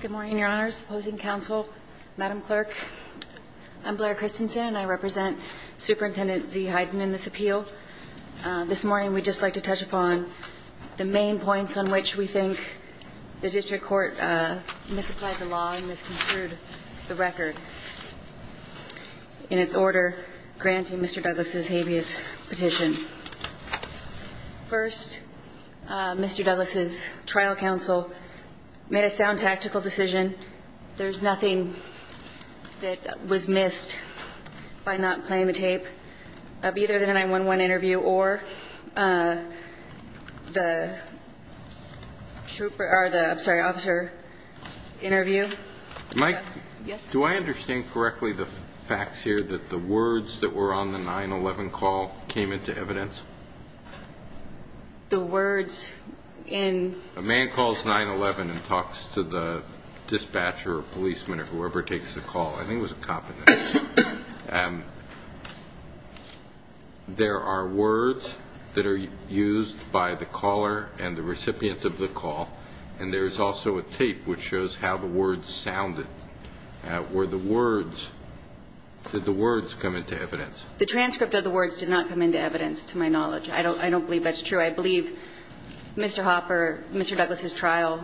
Good morning, Your Honors, opposing counsel, Madam Clerk. I'm Blair Christensen and I represent Superintendent Zee Hyden in this appeal. This morning we'd just like to touch upon the main point of the case, which is that Mr. Douglas' trial counsel made a sound tactical decision. There's nothing that was missed by not playing the tape of either the 9-1-1 interview or the officer interview. Mike, do I understand correctly the facts here that the words that were on the 9-1-1 call came into evidence? The words in... A man calls 9-1-1 and talks to the dispatcher or policeman or whoever takes the call. I think it was a cop. There are words that are used by the caller and the recipient of the call, and there's also a tape which shows how the words sounded. Were the words... Did the words come into evidence? The transcript of the words did not come into evidence, to my knowledge. I don't believe that's true. I believe Mr. Hopper, Mr. Douglas' trial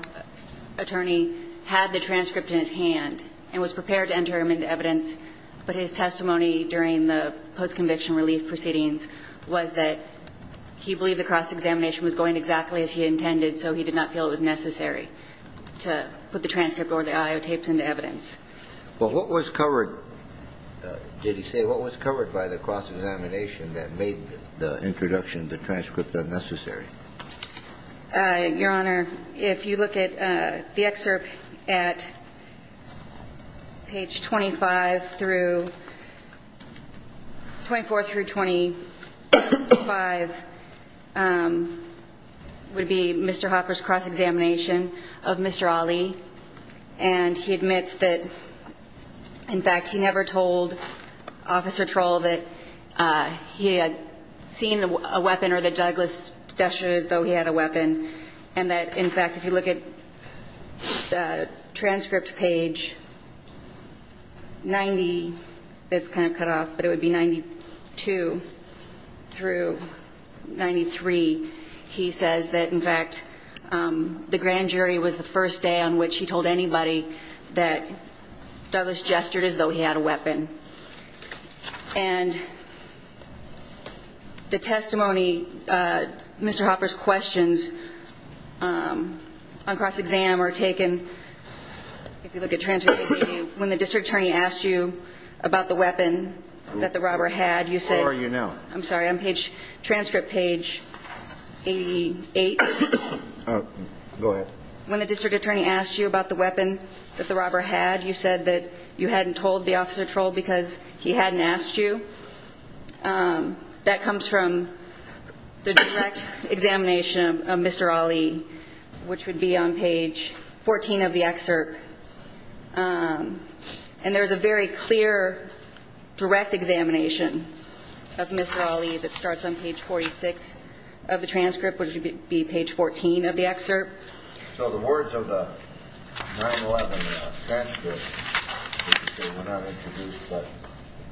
attorney, had the transcript in his hand and was prepared to enter him into evidence, but his testimony during the post-conviction relief proceedings was that he believed the cross-examination was going exactly as he intended, so he did not feel it was necessary to put the transcript or the audio tapes into evidence. Well, what was covered, did he say, what was covered by the cross-examination that made the introduction of the transcript unnecessary? Your Honor, if you look at the excerpt at page 25 through 24 through 25, would be Mr. Hopper's cross-examination of Mr. Ali, and he admits that, in fact, he never told Officer Troll that he had seen a weapon or that Douglas gestured as though he had a weapon, and that, in fact, if you look at the transcript page 90, it's kind of cut off, but it would be 92 through 93, he says that, in fact, the grand jury was the first day on which he told anybody that Douglas gestured as though he had a weapon. And the testimony, Mr. Hopper's questions on cross-exam are taken, if you look at transcript 80, when the district attorney asked you about the weapon that the robber had, you said – Where are you now? I'm sorry. I'm page – transcript page 88. Go ahead. When the district attorney asked you about the weapon that the robber had, you said that you hadn't told the Officer Troll because he hadn't asked you. That comes from the direct examination of Mr. Ali, which would be on page 14 of the excerpt. And there's a very clear direct examination of Mr. Ali that starts on page 46 of the So the words of the 9-11 transcript, you say, were not introduced, but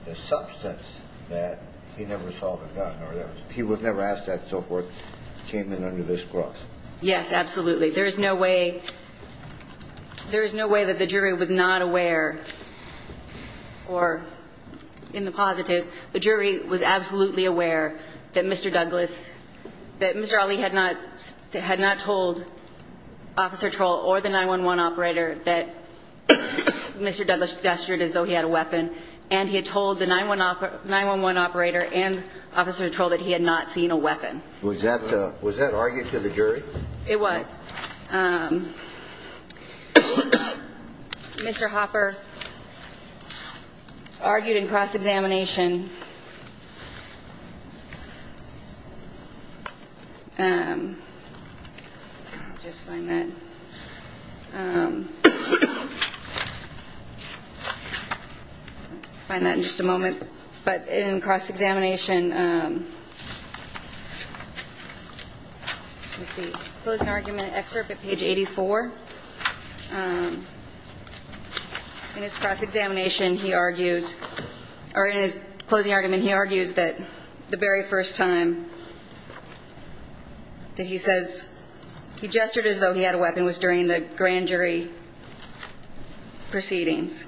the substance that he never saw the gun or he was never asked that and so forth came in under this clause. Yes, absolutely. There is no way – there is no way that the jury was not aware or, in the positive, the jury was absolutely aware that Mr. Douglas – that Mr. Ali had not – had not told Officer Troll or the 9-11 operator that Mr. Douglas gestured as though he had a weapon and he had told the 9-11 operator and Officer Troll that he had not seen a weapon. Was that – was that argued to the jury? It was. Mr. Hopper argued in cross-examination – let me just find that – find that in just a moment. But in cross-examination – let me see. Closing argument excerpt at page 84. In his cross-examination, he argues – or in his closing argument, he argues that the very first time that he says he gestured as though he had a weapon was during the grand jury proceedings.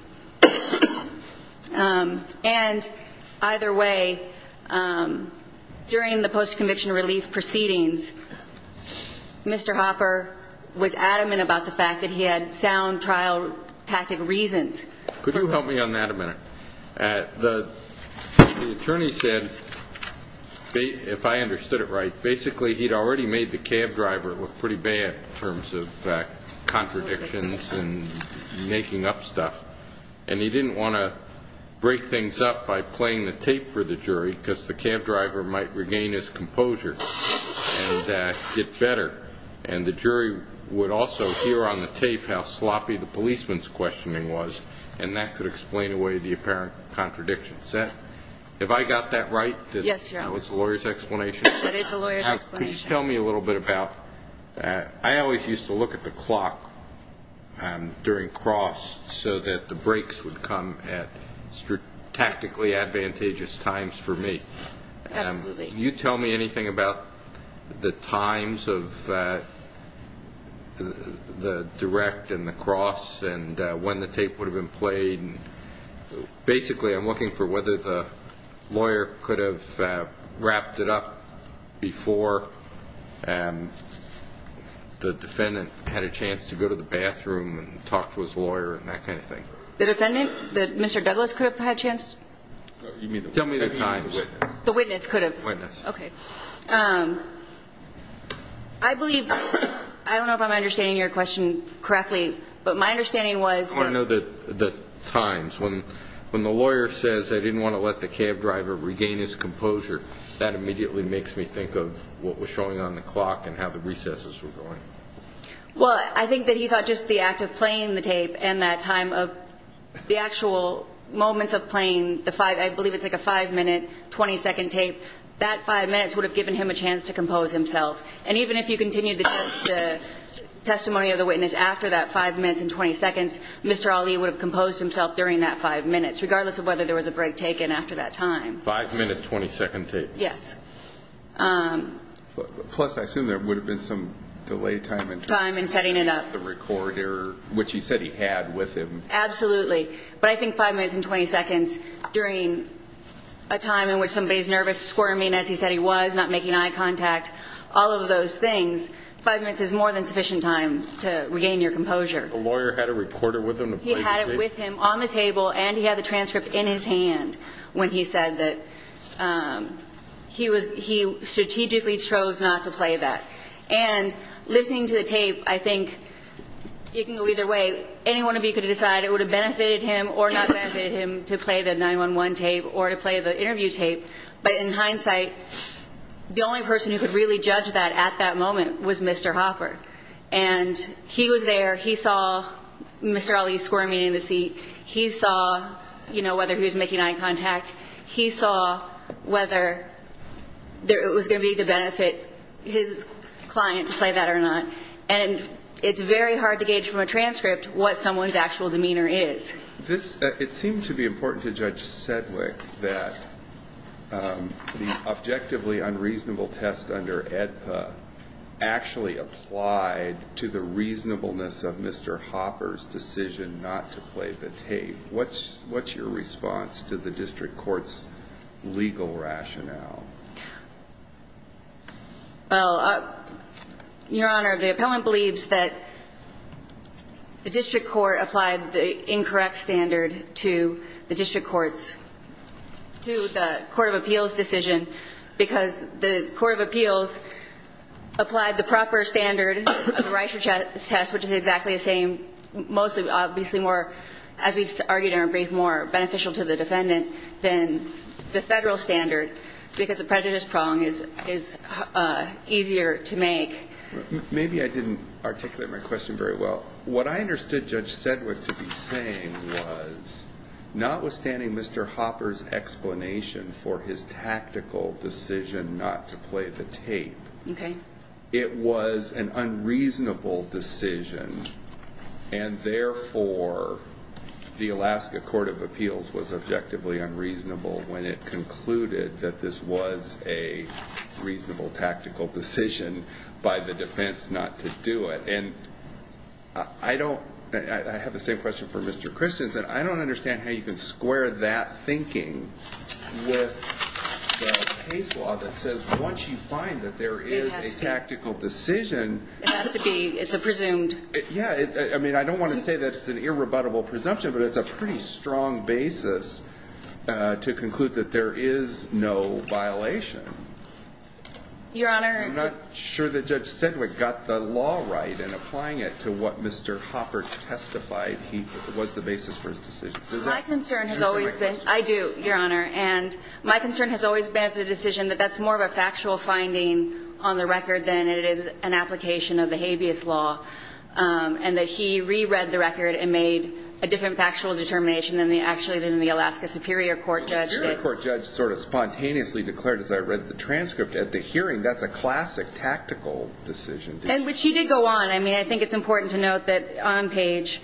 And either way, during the post-conviction relief proceedings, Mr. Hopper was adamant about the fact that he had sound trial tactic reasons. Could you help me on that a minute? The attorney said, if I understood it right, basically he had already made the cab driver look pretty bad in terms of contradictions and making up stuff. And he didn't want to break things up by playing the tape for the jury, because the cab driver might regain his composure and get better. And the jury would also hear on the tape how sloppy the policeman's questioning was, and that could explain away the apparent contradictions. Have I got that right? Yes, Your Honor. That was the lawyer's explanation? That is the lawyer's explanation. Could you tell me a little bit about – I always used to look at the clock during cross so that the breaks would come at tactically advantageous times for me. Absolutely. Can you tell me anything about the times of the direct and the cross and when the tape would have been played? Basically, I'm looking for whether the lawyer could have wrapped it up before the defendant had a chance to go to the bathroom and talk to his lawyer and that kind of thing. The defendant? Mr. Douglas could have had a chance? Tell me the times. The witness could have? Witness. Okay. I believe – I don't know if I'm understanding your question correctly, but my understanding was – I want to know the times. When the lawyer says, I didn't want to let the cab driver regain his composure, that immediately makes me think of what was showing on the clock and how the recesses were going. Well, I think that he thought just the act of playing the tape and that time of the actual moments of playing the five – I believe it's like a five-minute, 20-second tape, that five minutes would have given him a chance to compose himself. And even if you continued the testimony of the witness after that five minutes and 20 seconds, Mr. Ali would have composed himself during that five minutes, regardless of whether there was a break taken after that time. Five-minute, 20-second tape. Yes. Plus, I assume there would have been some delay time in terms of setting up the recorder, which he said he had with him. Absolutely. But I think five minutes and 20 seconds during a time in which somebody is nervous, squirming as he said he was, not making eye contact, all of those things, five minutes is more than sufficient time to regain your composure. The lawyer had a recorder with him to play the tape? He had it with him on the table and he had the transcript in his hand when he said that he strategically chose not to play that. And listening to the tape, I think it can go either way. Any one of you could decide it would have benefited him or not benefited him to play the 911 tape or to play the interview tape, but in hindsight, the only person who could really judge that at that moment was Mr. Hopper. And he was there. He saw Mr. Ali squirming in the seat. He saw, you know, whether he was making eye contact. He saw whether it was going to be to benefit his client to play that or not. And it's very hard to gauge from a transcript what someone's actual demeanor is. It seemed to be important to Judge Sedgwick that the objectively unreasonable test under AEDPA actually applied to the reasonableness of Mr. Hopper's decision not to play the tape. What's your response to the district court's legal rationale? Well, Your Honor, the appellant believes that the district court applied the incorrect standard to the district court's, to the court of appeals' decision because the court of appeals applied the proper standard of the Reischer test, which is exactly the same, mostly obviously more, as we argued in our brief, more beneficial to the defendant than the federal standard because the prejudice prong is easier to make. Maybe I didn't articulate my question very well. What I understood Judge Sedgwick to be saying was, notwithstanding Mr. Hopper's explanation for his tactical decision not to play the tape, it was an unreasonable decision, and therefore the Alaska court of appeals was objectively unreasonable when it concluded that this was a reasonable tactical decision by the defense not to do it. And I don't, I have the same question for Mr. Christensen. I don't understand how you can square that thinking with the case law that says once you find that there is a tactical decision, it has to be, it's a presumed. Yeah, I mean, I don't want to say that it's an irrebuttable presumption, but it's a pretty strong basis to conclude that there is no violation. Your Honor. I'm not sure that Judge Sedgwick got the law right in applying it to what Mr. Hopper testified was the basis for his decision. My concern has always been, I do, Your Honor, and my concern has always been the decision that that's more of a factual finding on the record than it is an application of the habeas law, and that he reread the record and made a different factual determination than the Alaska superior court judge did. Well, the superior court judge sort of spontaneously declared as I read the transcript, at the hearing, that's a classic tactical decision. But she did go on. I mean, I think it's important to note that on page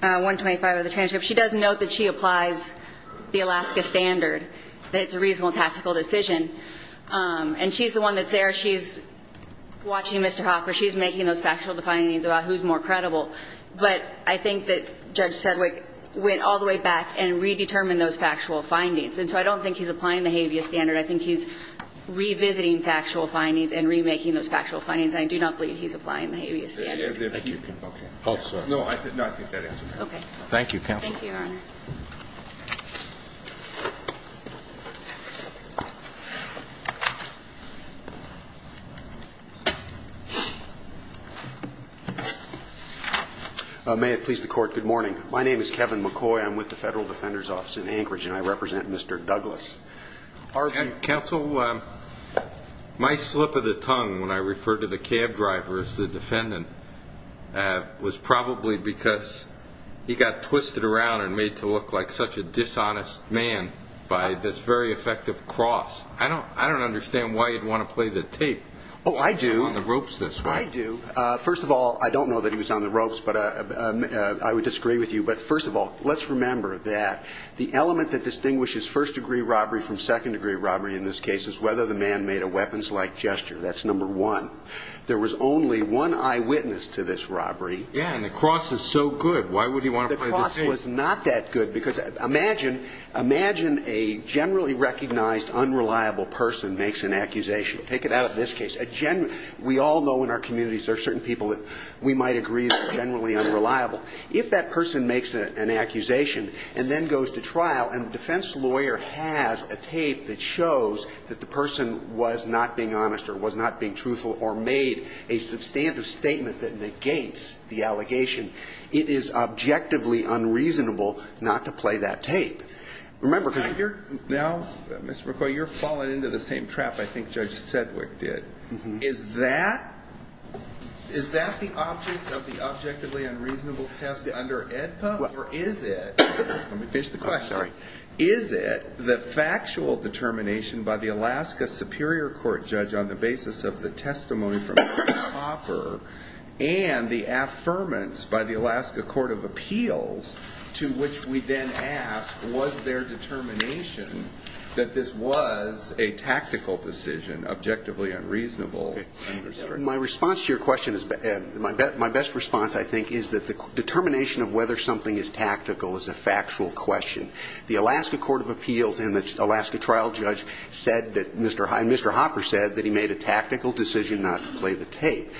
125 of the transcript, she does note that she applies the Alaska standard, that it's a reasonable tactical decision. And she's the one that's there. She's watching Mr. Hopper. She's making those factual findings about who's more credible. But I think that Judge Sedgwick went all the way back and redetermined those factual findings. And so I don't think he's applying the habeas standard. I think he's revisiting factual findings and remaking those factual findings. I do not believe he's applying the habeas standard. Oh, sorry. No, I think that answers it. Okay. Thank you, Counsel. Thank you, Your Honor. May it please the Court, good morning. My name is Kevin McCoy. I'm with the Federal Defender's Office in Anchorage, and I represent Mr. Douglas. Counsel, my slip of the tongue when I referred to the cab driver as the defendant was probably because he got twisted around and made to look like such a dishonest man by this very effective cross. I don't understand why you'd want to play the tape. Oh, I do. I'm on the ropes this way. I do. First of all, I don't know that he was on the ropes, but I would disagree with you. But first of all, let's remember that the element that distinguishes first-degree robbery from second-degree robbery in this case is whether the man made a weapons-like gesture. That's number one. There was only one eyewitness to this robbery. Yeah, and the cross is so good. Why would he want to play the tape? The cross was not that good because imagine a generally recognized unreliable person makes an accusation. Take it out of this case. We all know in our communities there are certain people that we might agree are generally unreliable. If that person makes an accusation and then goes to trial and the defense lawyer has a tape that shows that the person was not being honest or was not being truthful or made a substantive statement that negates the allegation, it is objectively unreasonable not to play that tape. Now, Mr. McCoy, you're falling into the same trap I think Judge Sedgwick did. Is that the object of the objectively unreasonable test under AEDPA? Or is it the factual determination by the Alaska Superior Court judge on the basis of the testimony from Ed Hopper and the affirmance by the Alaska Court of Appeals to which we then ask, was there determination that this was a tactical decision, objectively unreasonable? My response to your question is my best response, I think, is that the determination of whether something is tactical is a factual question. The Alaska Court of Appeals and the Alaska trial judge said that Mr. Hopper said that he made a tactical decision not to play the tape.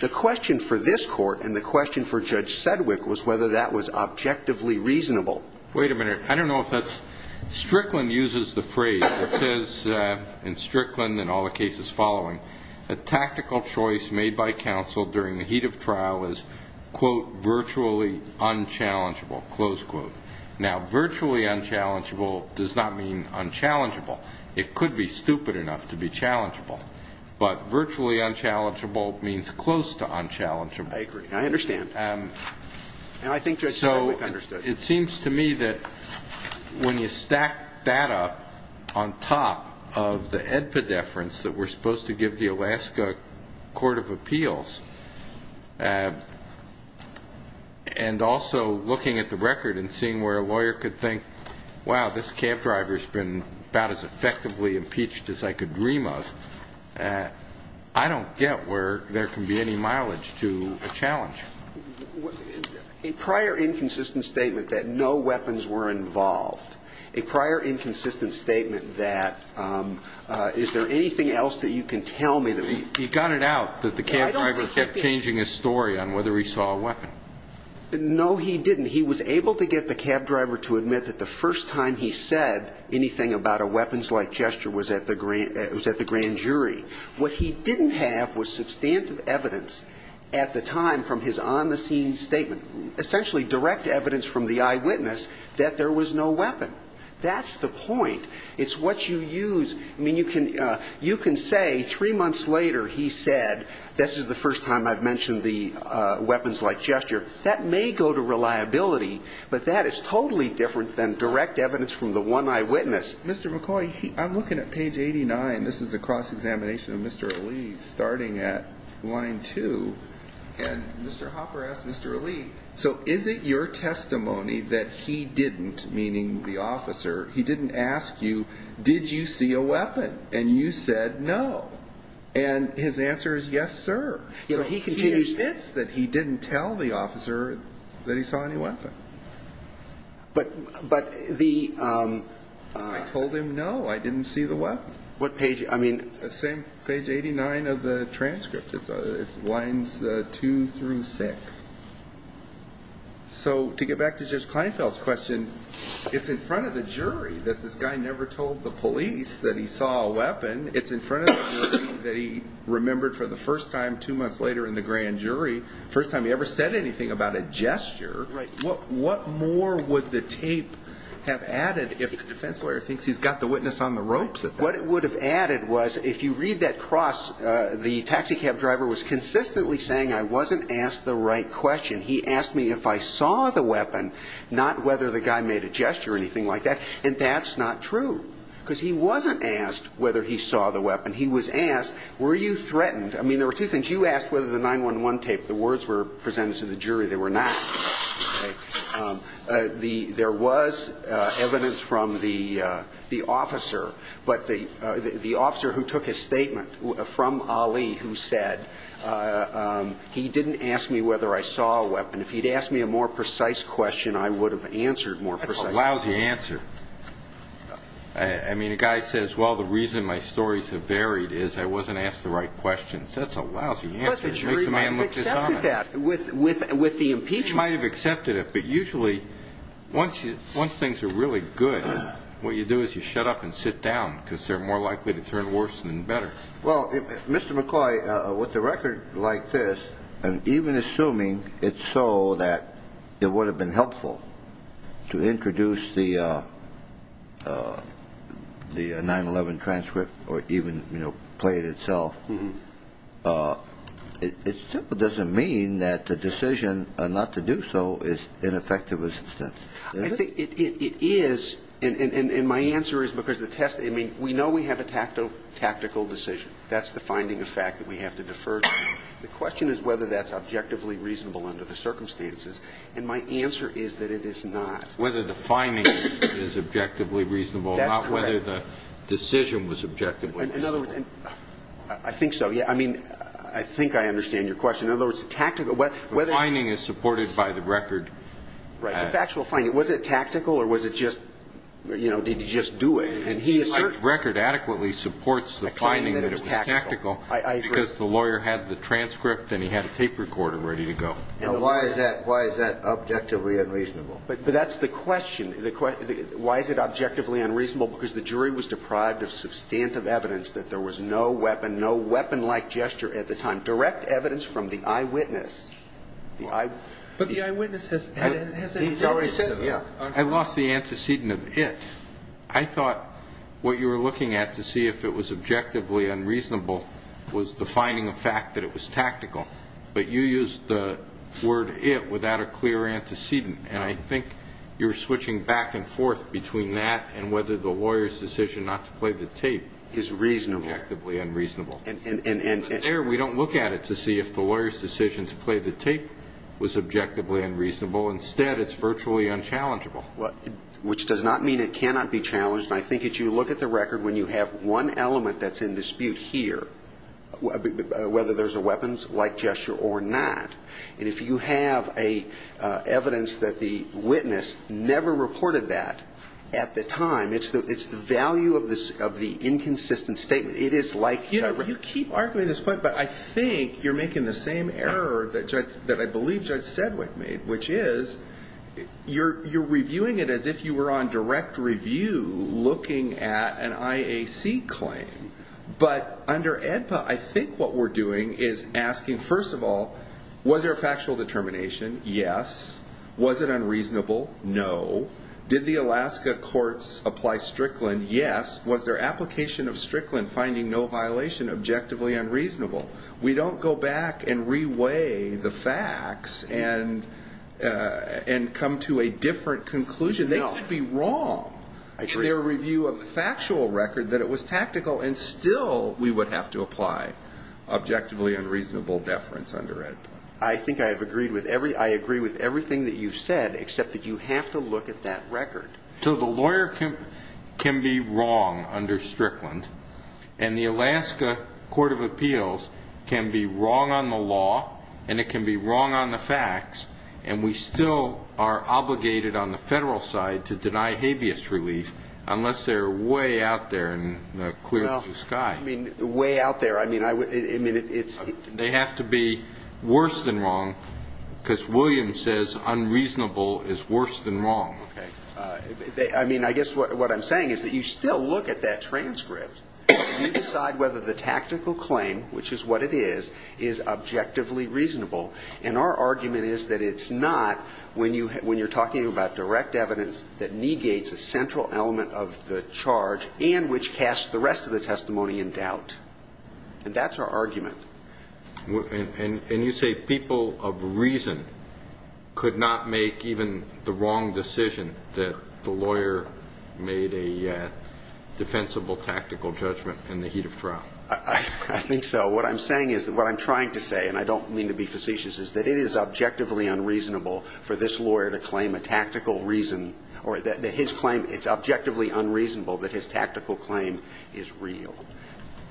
The question for this court and the question for Judge Sedgwick was whether that was objectively reasonable. Wait a minute. I don't know if that's, Strickland uses the phrase, it says in Strickland and all the cases following, a tactical choice made by counsel during the heat of trial is, quote, virtually unchallengeable, close quote. Now, virtually unchallengeable does not mean unchallengeable. It could be stupid enough to be challengeable. But virtually unchallengeable means close to unchallengeable. I agree. I understand. And I think Judge Sedgwick understood. It seems to me that when you stack that up on top of the edpedeference that we're supposed to give the Alaska Court of Appeals and also looking at the record and seeing where a lawyer could think, wow, this cab driver's been about as effectively impeached as I could dream of, I don't get where there can be any mileage to a challenge. A prior inconsistent statement that no weapons were involved, a prior inconsistent statement that is there anything else that you can tell me that we can do? He got it out that the cab driver kept changing his story on whether he saw a weapon. No, he didn't. He was able to get the cab driver to admit that the first time he said anything about a weapons-like gesture was at the grand jury. What he didn't have was substantive evidence at the time from his on-the-scene statement, essentially direct evidence from the eyewitness that there was no weapon. That's the point. It's what you use. I mean, you can say three months later he said this is the first time I've mentioned the weapons-like gesture. That may go to reliability, but that is totally different than direct evidence from the one eyewitness. Mr. McCoy, I'm looking at page 89. This is the cross-examination of Mr. Ali, starting at line two. And Mr. Hopper asked Mr. Ali, so is it your testimony that he didn't, meaning the officer, he didn't ask you, did you see a weapon, and you said no? And his answer is yes, sir. So he continues this, that he didn't tell the officer that he saw any weapon. I told him no, I didn't see the weapon. What page? Page 89 of the transcript. It's lines two through six. So to get back to Judge Kleinfeld's question, it's in front of the jury that this guy never told the police that he saw a weapon. It's in front of the jury that he remembered for the first time two months later in the grand jury, the first time he ever said anything about a gesture. What more would the tape have added if the defense lawyer thinks he's got the witness on the ropes? What it would have added was if you read that cross, the taxi cab driver was consistently saying I wasn't asked the right question. He asked me if I saw the weapon, not whether the guy made a gesture or anything like that, and that's not true because he wasn't asked whether he saw the weapon. He was asked were you threatened. I mean, there were two things. You asked whether the 911 tape, the words were presented to the jury. They were not. There was evidence from the officer, but the officer who took his statement from Ali, who said he didn't ask me whether I saw a weapon. If he'd asked me a more precise question, I would have answered more precisely. That's a lousy answer. I mean, a guy says, well, the reason my stories have varied is I wasn't asked the right questions. That's a lousy answer. The jury might have accepted that with the impeachment. They might have accepted it, but usually once things are really good, what you do is you shut up and sit down because they're more likely to turn worse than better. Well, Mr. McCoy, with a record like this, and even assuming it's so that it would have been helpful to introduce the 911 transcript or even play it itself, it simply doesn't mean that the decision not to do so is ineffective. It is, and my answer is because the test, I mean, we know we have a tactical decision. That's the finding of fact that we have to defer to. The question is whether that's objectively reasonable under the circumstances, and my answer is that it is not. Whether the finding is objectively reasonable. That's correct. Not whether the decision was objectively reasonable. In other words, I think so. I mean, I think I understand your question. In other words, the tactical. The finding is supported by the record. Right. It's a factual finding. Was it tactical or was it just, you know, did he just do it? And he asserts. The record adequately supports the finding that it was tactical. I agree. Because the lawyer had the transcript and he had a tape recorder ready to go. Now, why is that objectively unreasonable? But that's the question. Why is it objectively unreasonable? Because the jury was deprived of substantive evidence that there was no weapon, no weapon-like gesture at the time, direct evidence from the eyewitness. But the eyewitness has said. I lost the antecedent of it. I thought what you were looking at to see if it was objectively unreasonable was defining a fact that it was tactical. But you used the word it without a clear antecedent. And I think you're switching back and forth between that and whether the lawyer's decision not to play the tape is objectively unreasonable. But there we don't look at it to see if the lawyer's decision to play the tape was objectively unreasonable. Instead, it's virtually unchallengeable. Which does not mean it cannot be challenged. And I think that you look at the record when you have one element that's in dispute here, whether there's a weapons-like gesture or not. And if you have evidence that the witness never reported that at the time, it's the value of the inconsistent statement. You keep arguing this point, but I think you're making the same error that I believe Judge Sedwick made, which is you're reviewing it as if you were on direct review looking at an IAC claim. But under AEDPA, I think what we're doing is asking, first of all, was there a factual determination? Yes. Was it unreasonable? No. Did the Alaska courts apply Strickland? Yes. Was their application of Strickland finding no violation objectively unreasonable? We don't go back and re-weigh the facts and come to a different conclusion. They could be wrong in their review of the factual record that it was tactical, and still we would have to apply objectively unreasonable deference under AEDPA. I think I agree with everything that you've said, except that you have to look at that record. So the lawyer can be wrong under Strickland, and the Alaska Court of Appeals can be wrong on the law, and it can be wrong on the facts, and we still are obligated on the federal side to deny habeas relief unless they're way out there in the clear blue sky. Well, I mean, way out there. I mean, it's – They have to be worse than wrong because Williams says unreasonable is worse than wrong. I mean, I guess what I'm saying is that you still look at that transcript. You decide whether the tactical claim, which is what it is, is objectively reasonable. And our argument is that it's not when you're talking about direct evidence that negates a central element of the charge and which casts the rest of the testimony in doubt. And that's our argument. And you say people of reason could not make even the wrong decision, that the lawyer made a defensible tactical judgment in the heat of trial. I think so. What I'm saying is – what I'm trying to say, and I don't mean to be facetious, is that it is objectively unreasonable for this lawyer to claim a tactical reason or that his claim – it's objectively unreasonable that his tactical claim is real.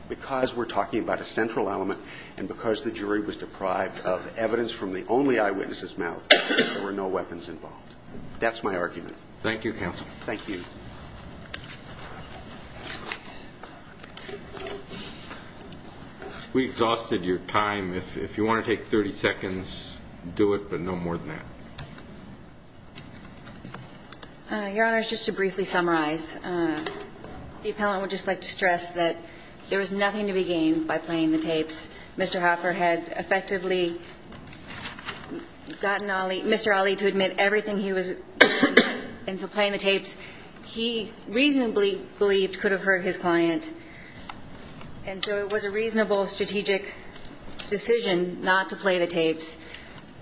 Because we're talking about a central element and because the jury was deprived of evidence from the only eyewitness's mouth, there were no weapons involved. That's my argument. Thank you, counsel. Thank you. We exhausted your time. If you want to take 30 seconds, do it, but no more than that. Your Honor, just to briefly summarize, the appellant would just like to stress that there was nothing to be gained by playing the tapes. Mr. Hopper had effectively gotten Ali – Mr. Ali to admit everything he was – and so playing the tapes he reasonably believed could have hurt his client. And so it was a reasonable strategic decision not to play the tapes.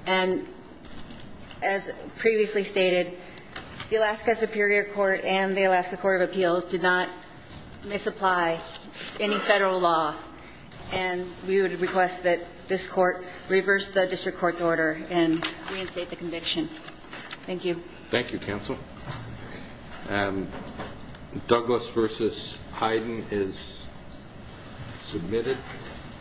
And as previously stated, the Alaska Superior Court and the Alaska Court of Appeals did not misapply any federal law. And we would request that this court reverse the district court's order and reinstate the conviction. Thank you. Thank you, counsel. Douglas v. Hyden is submitted.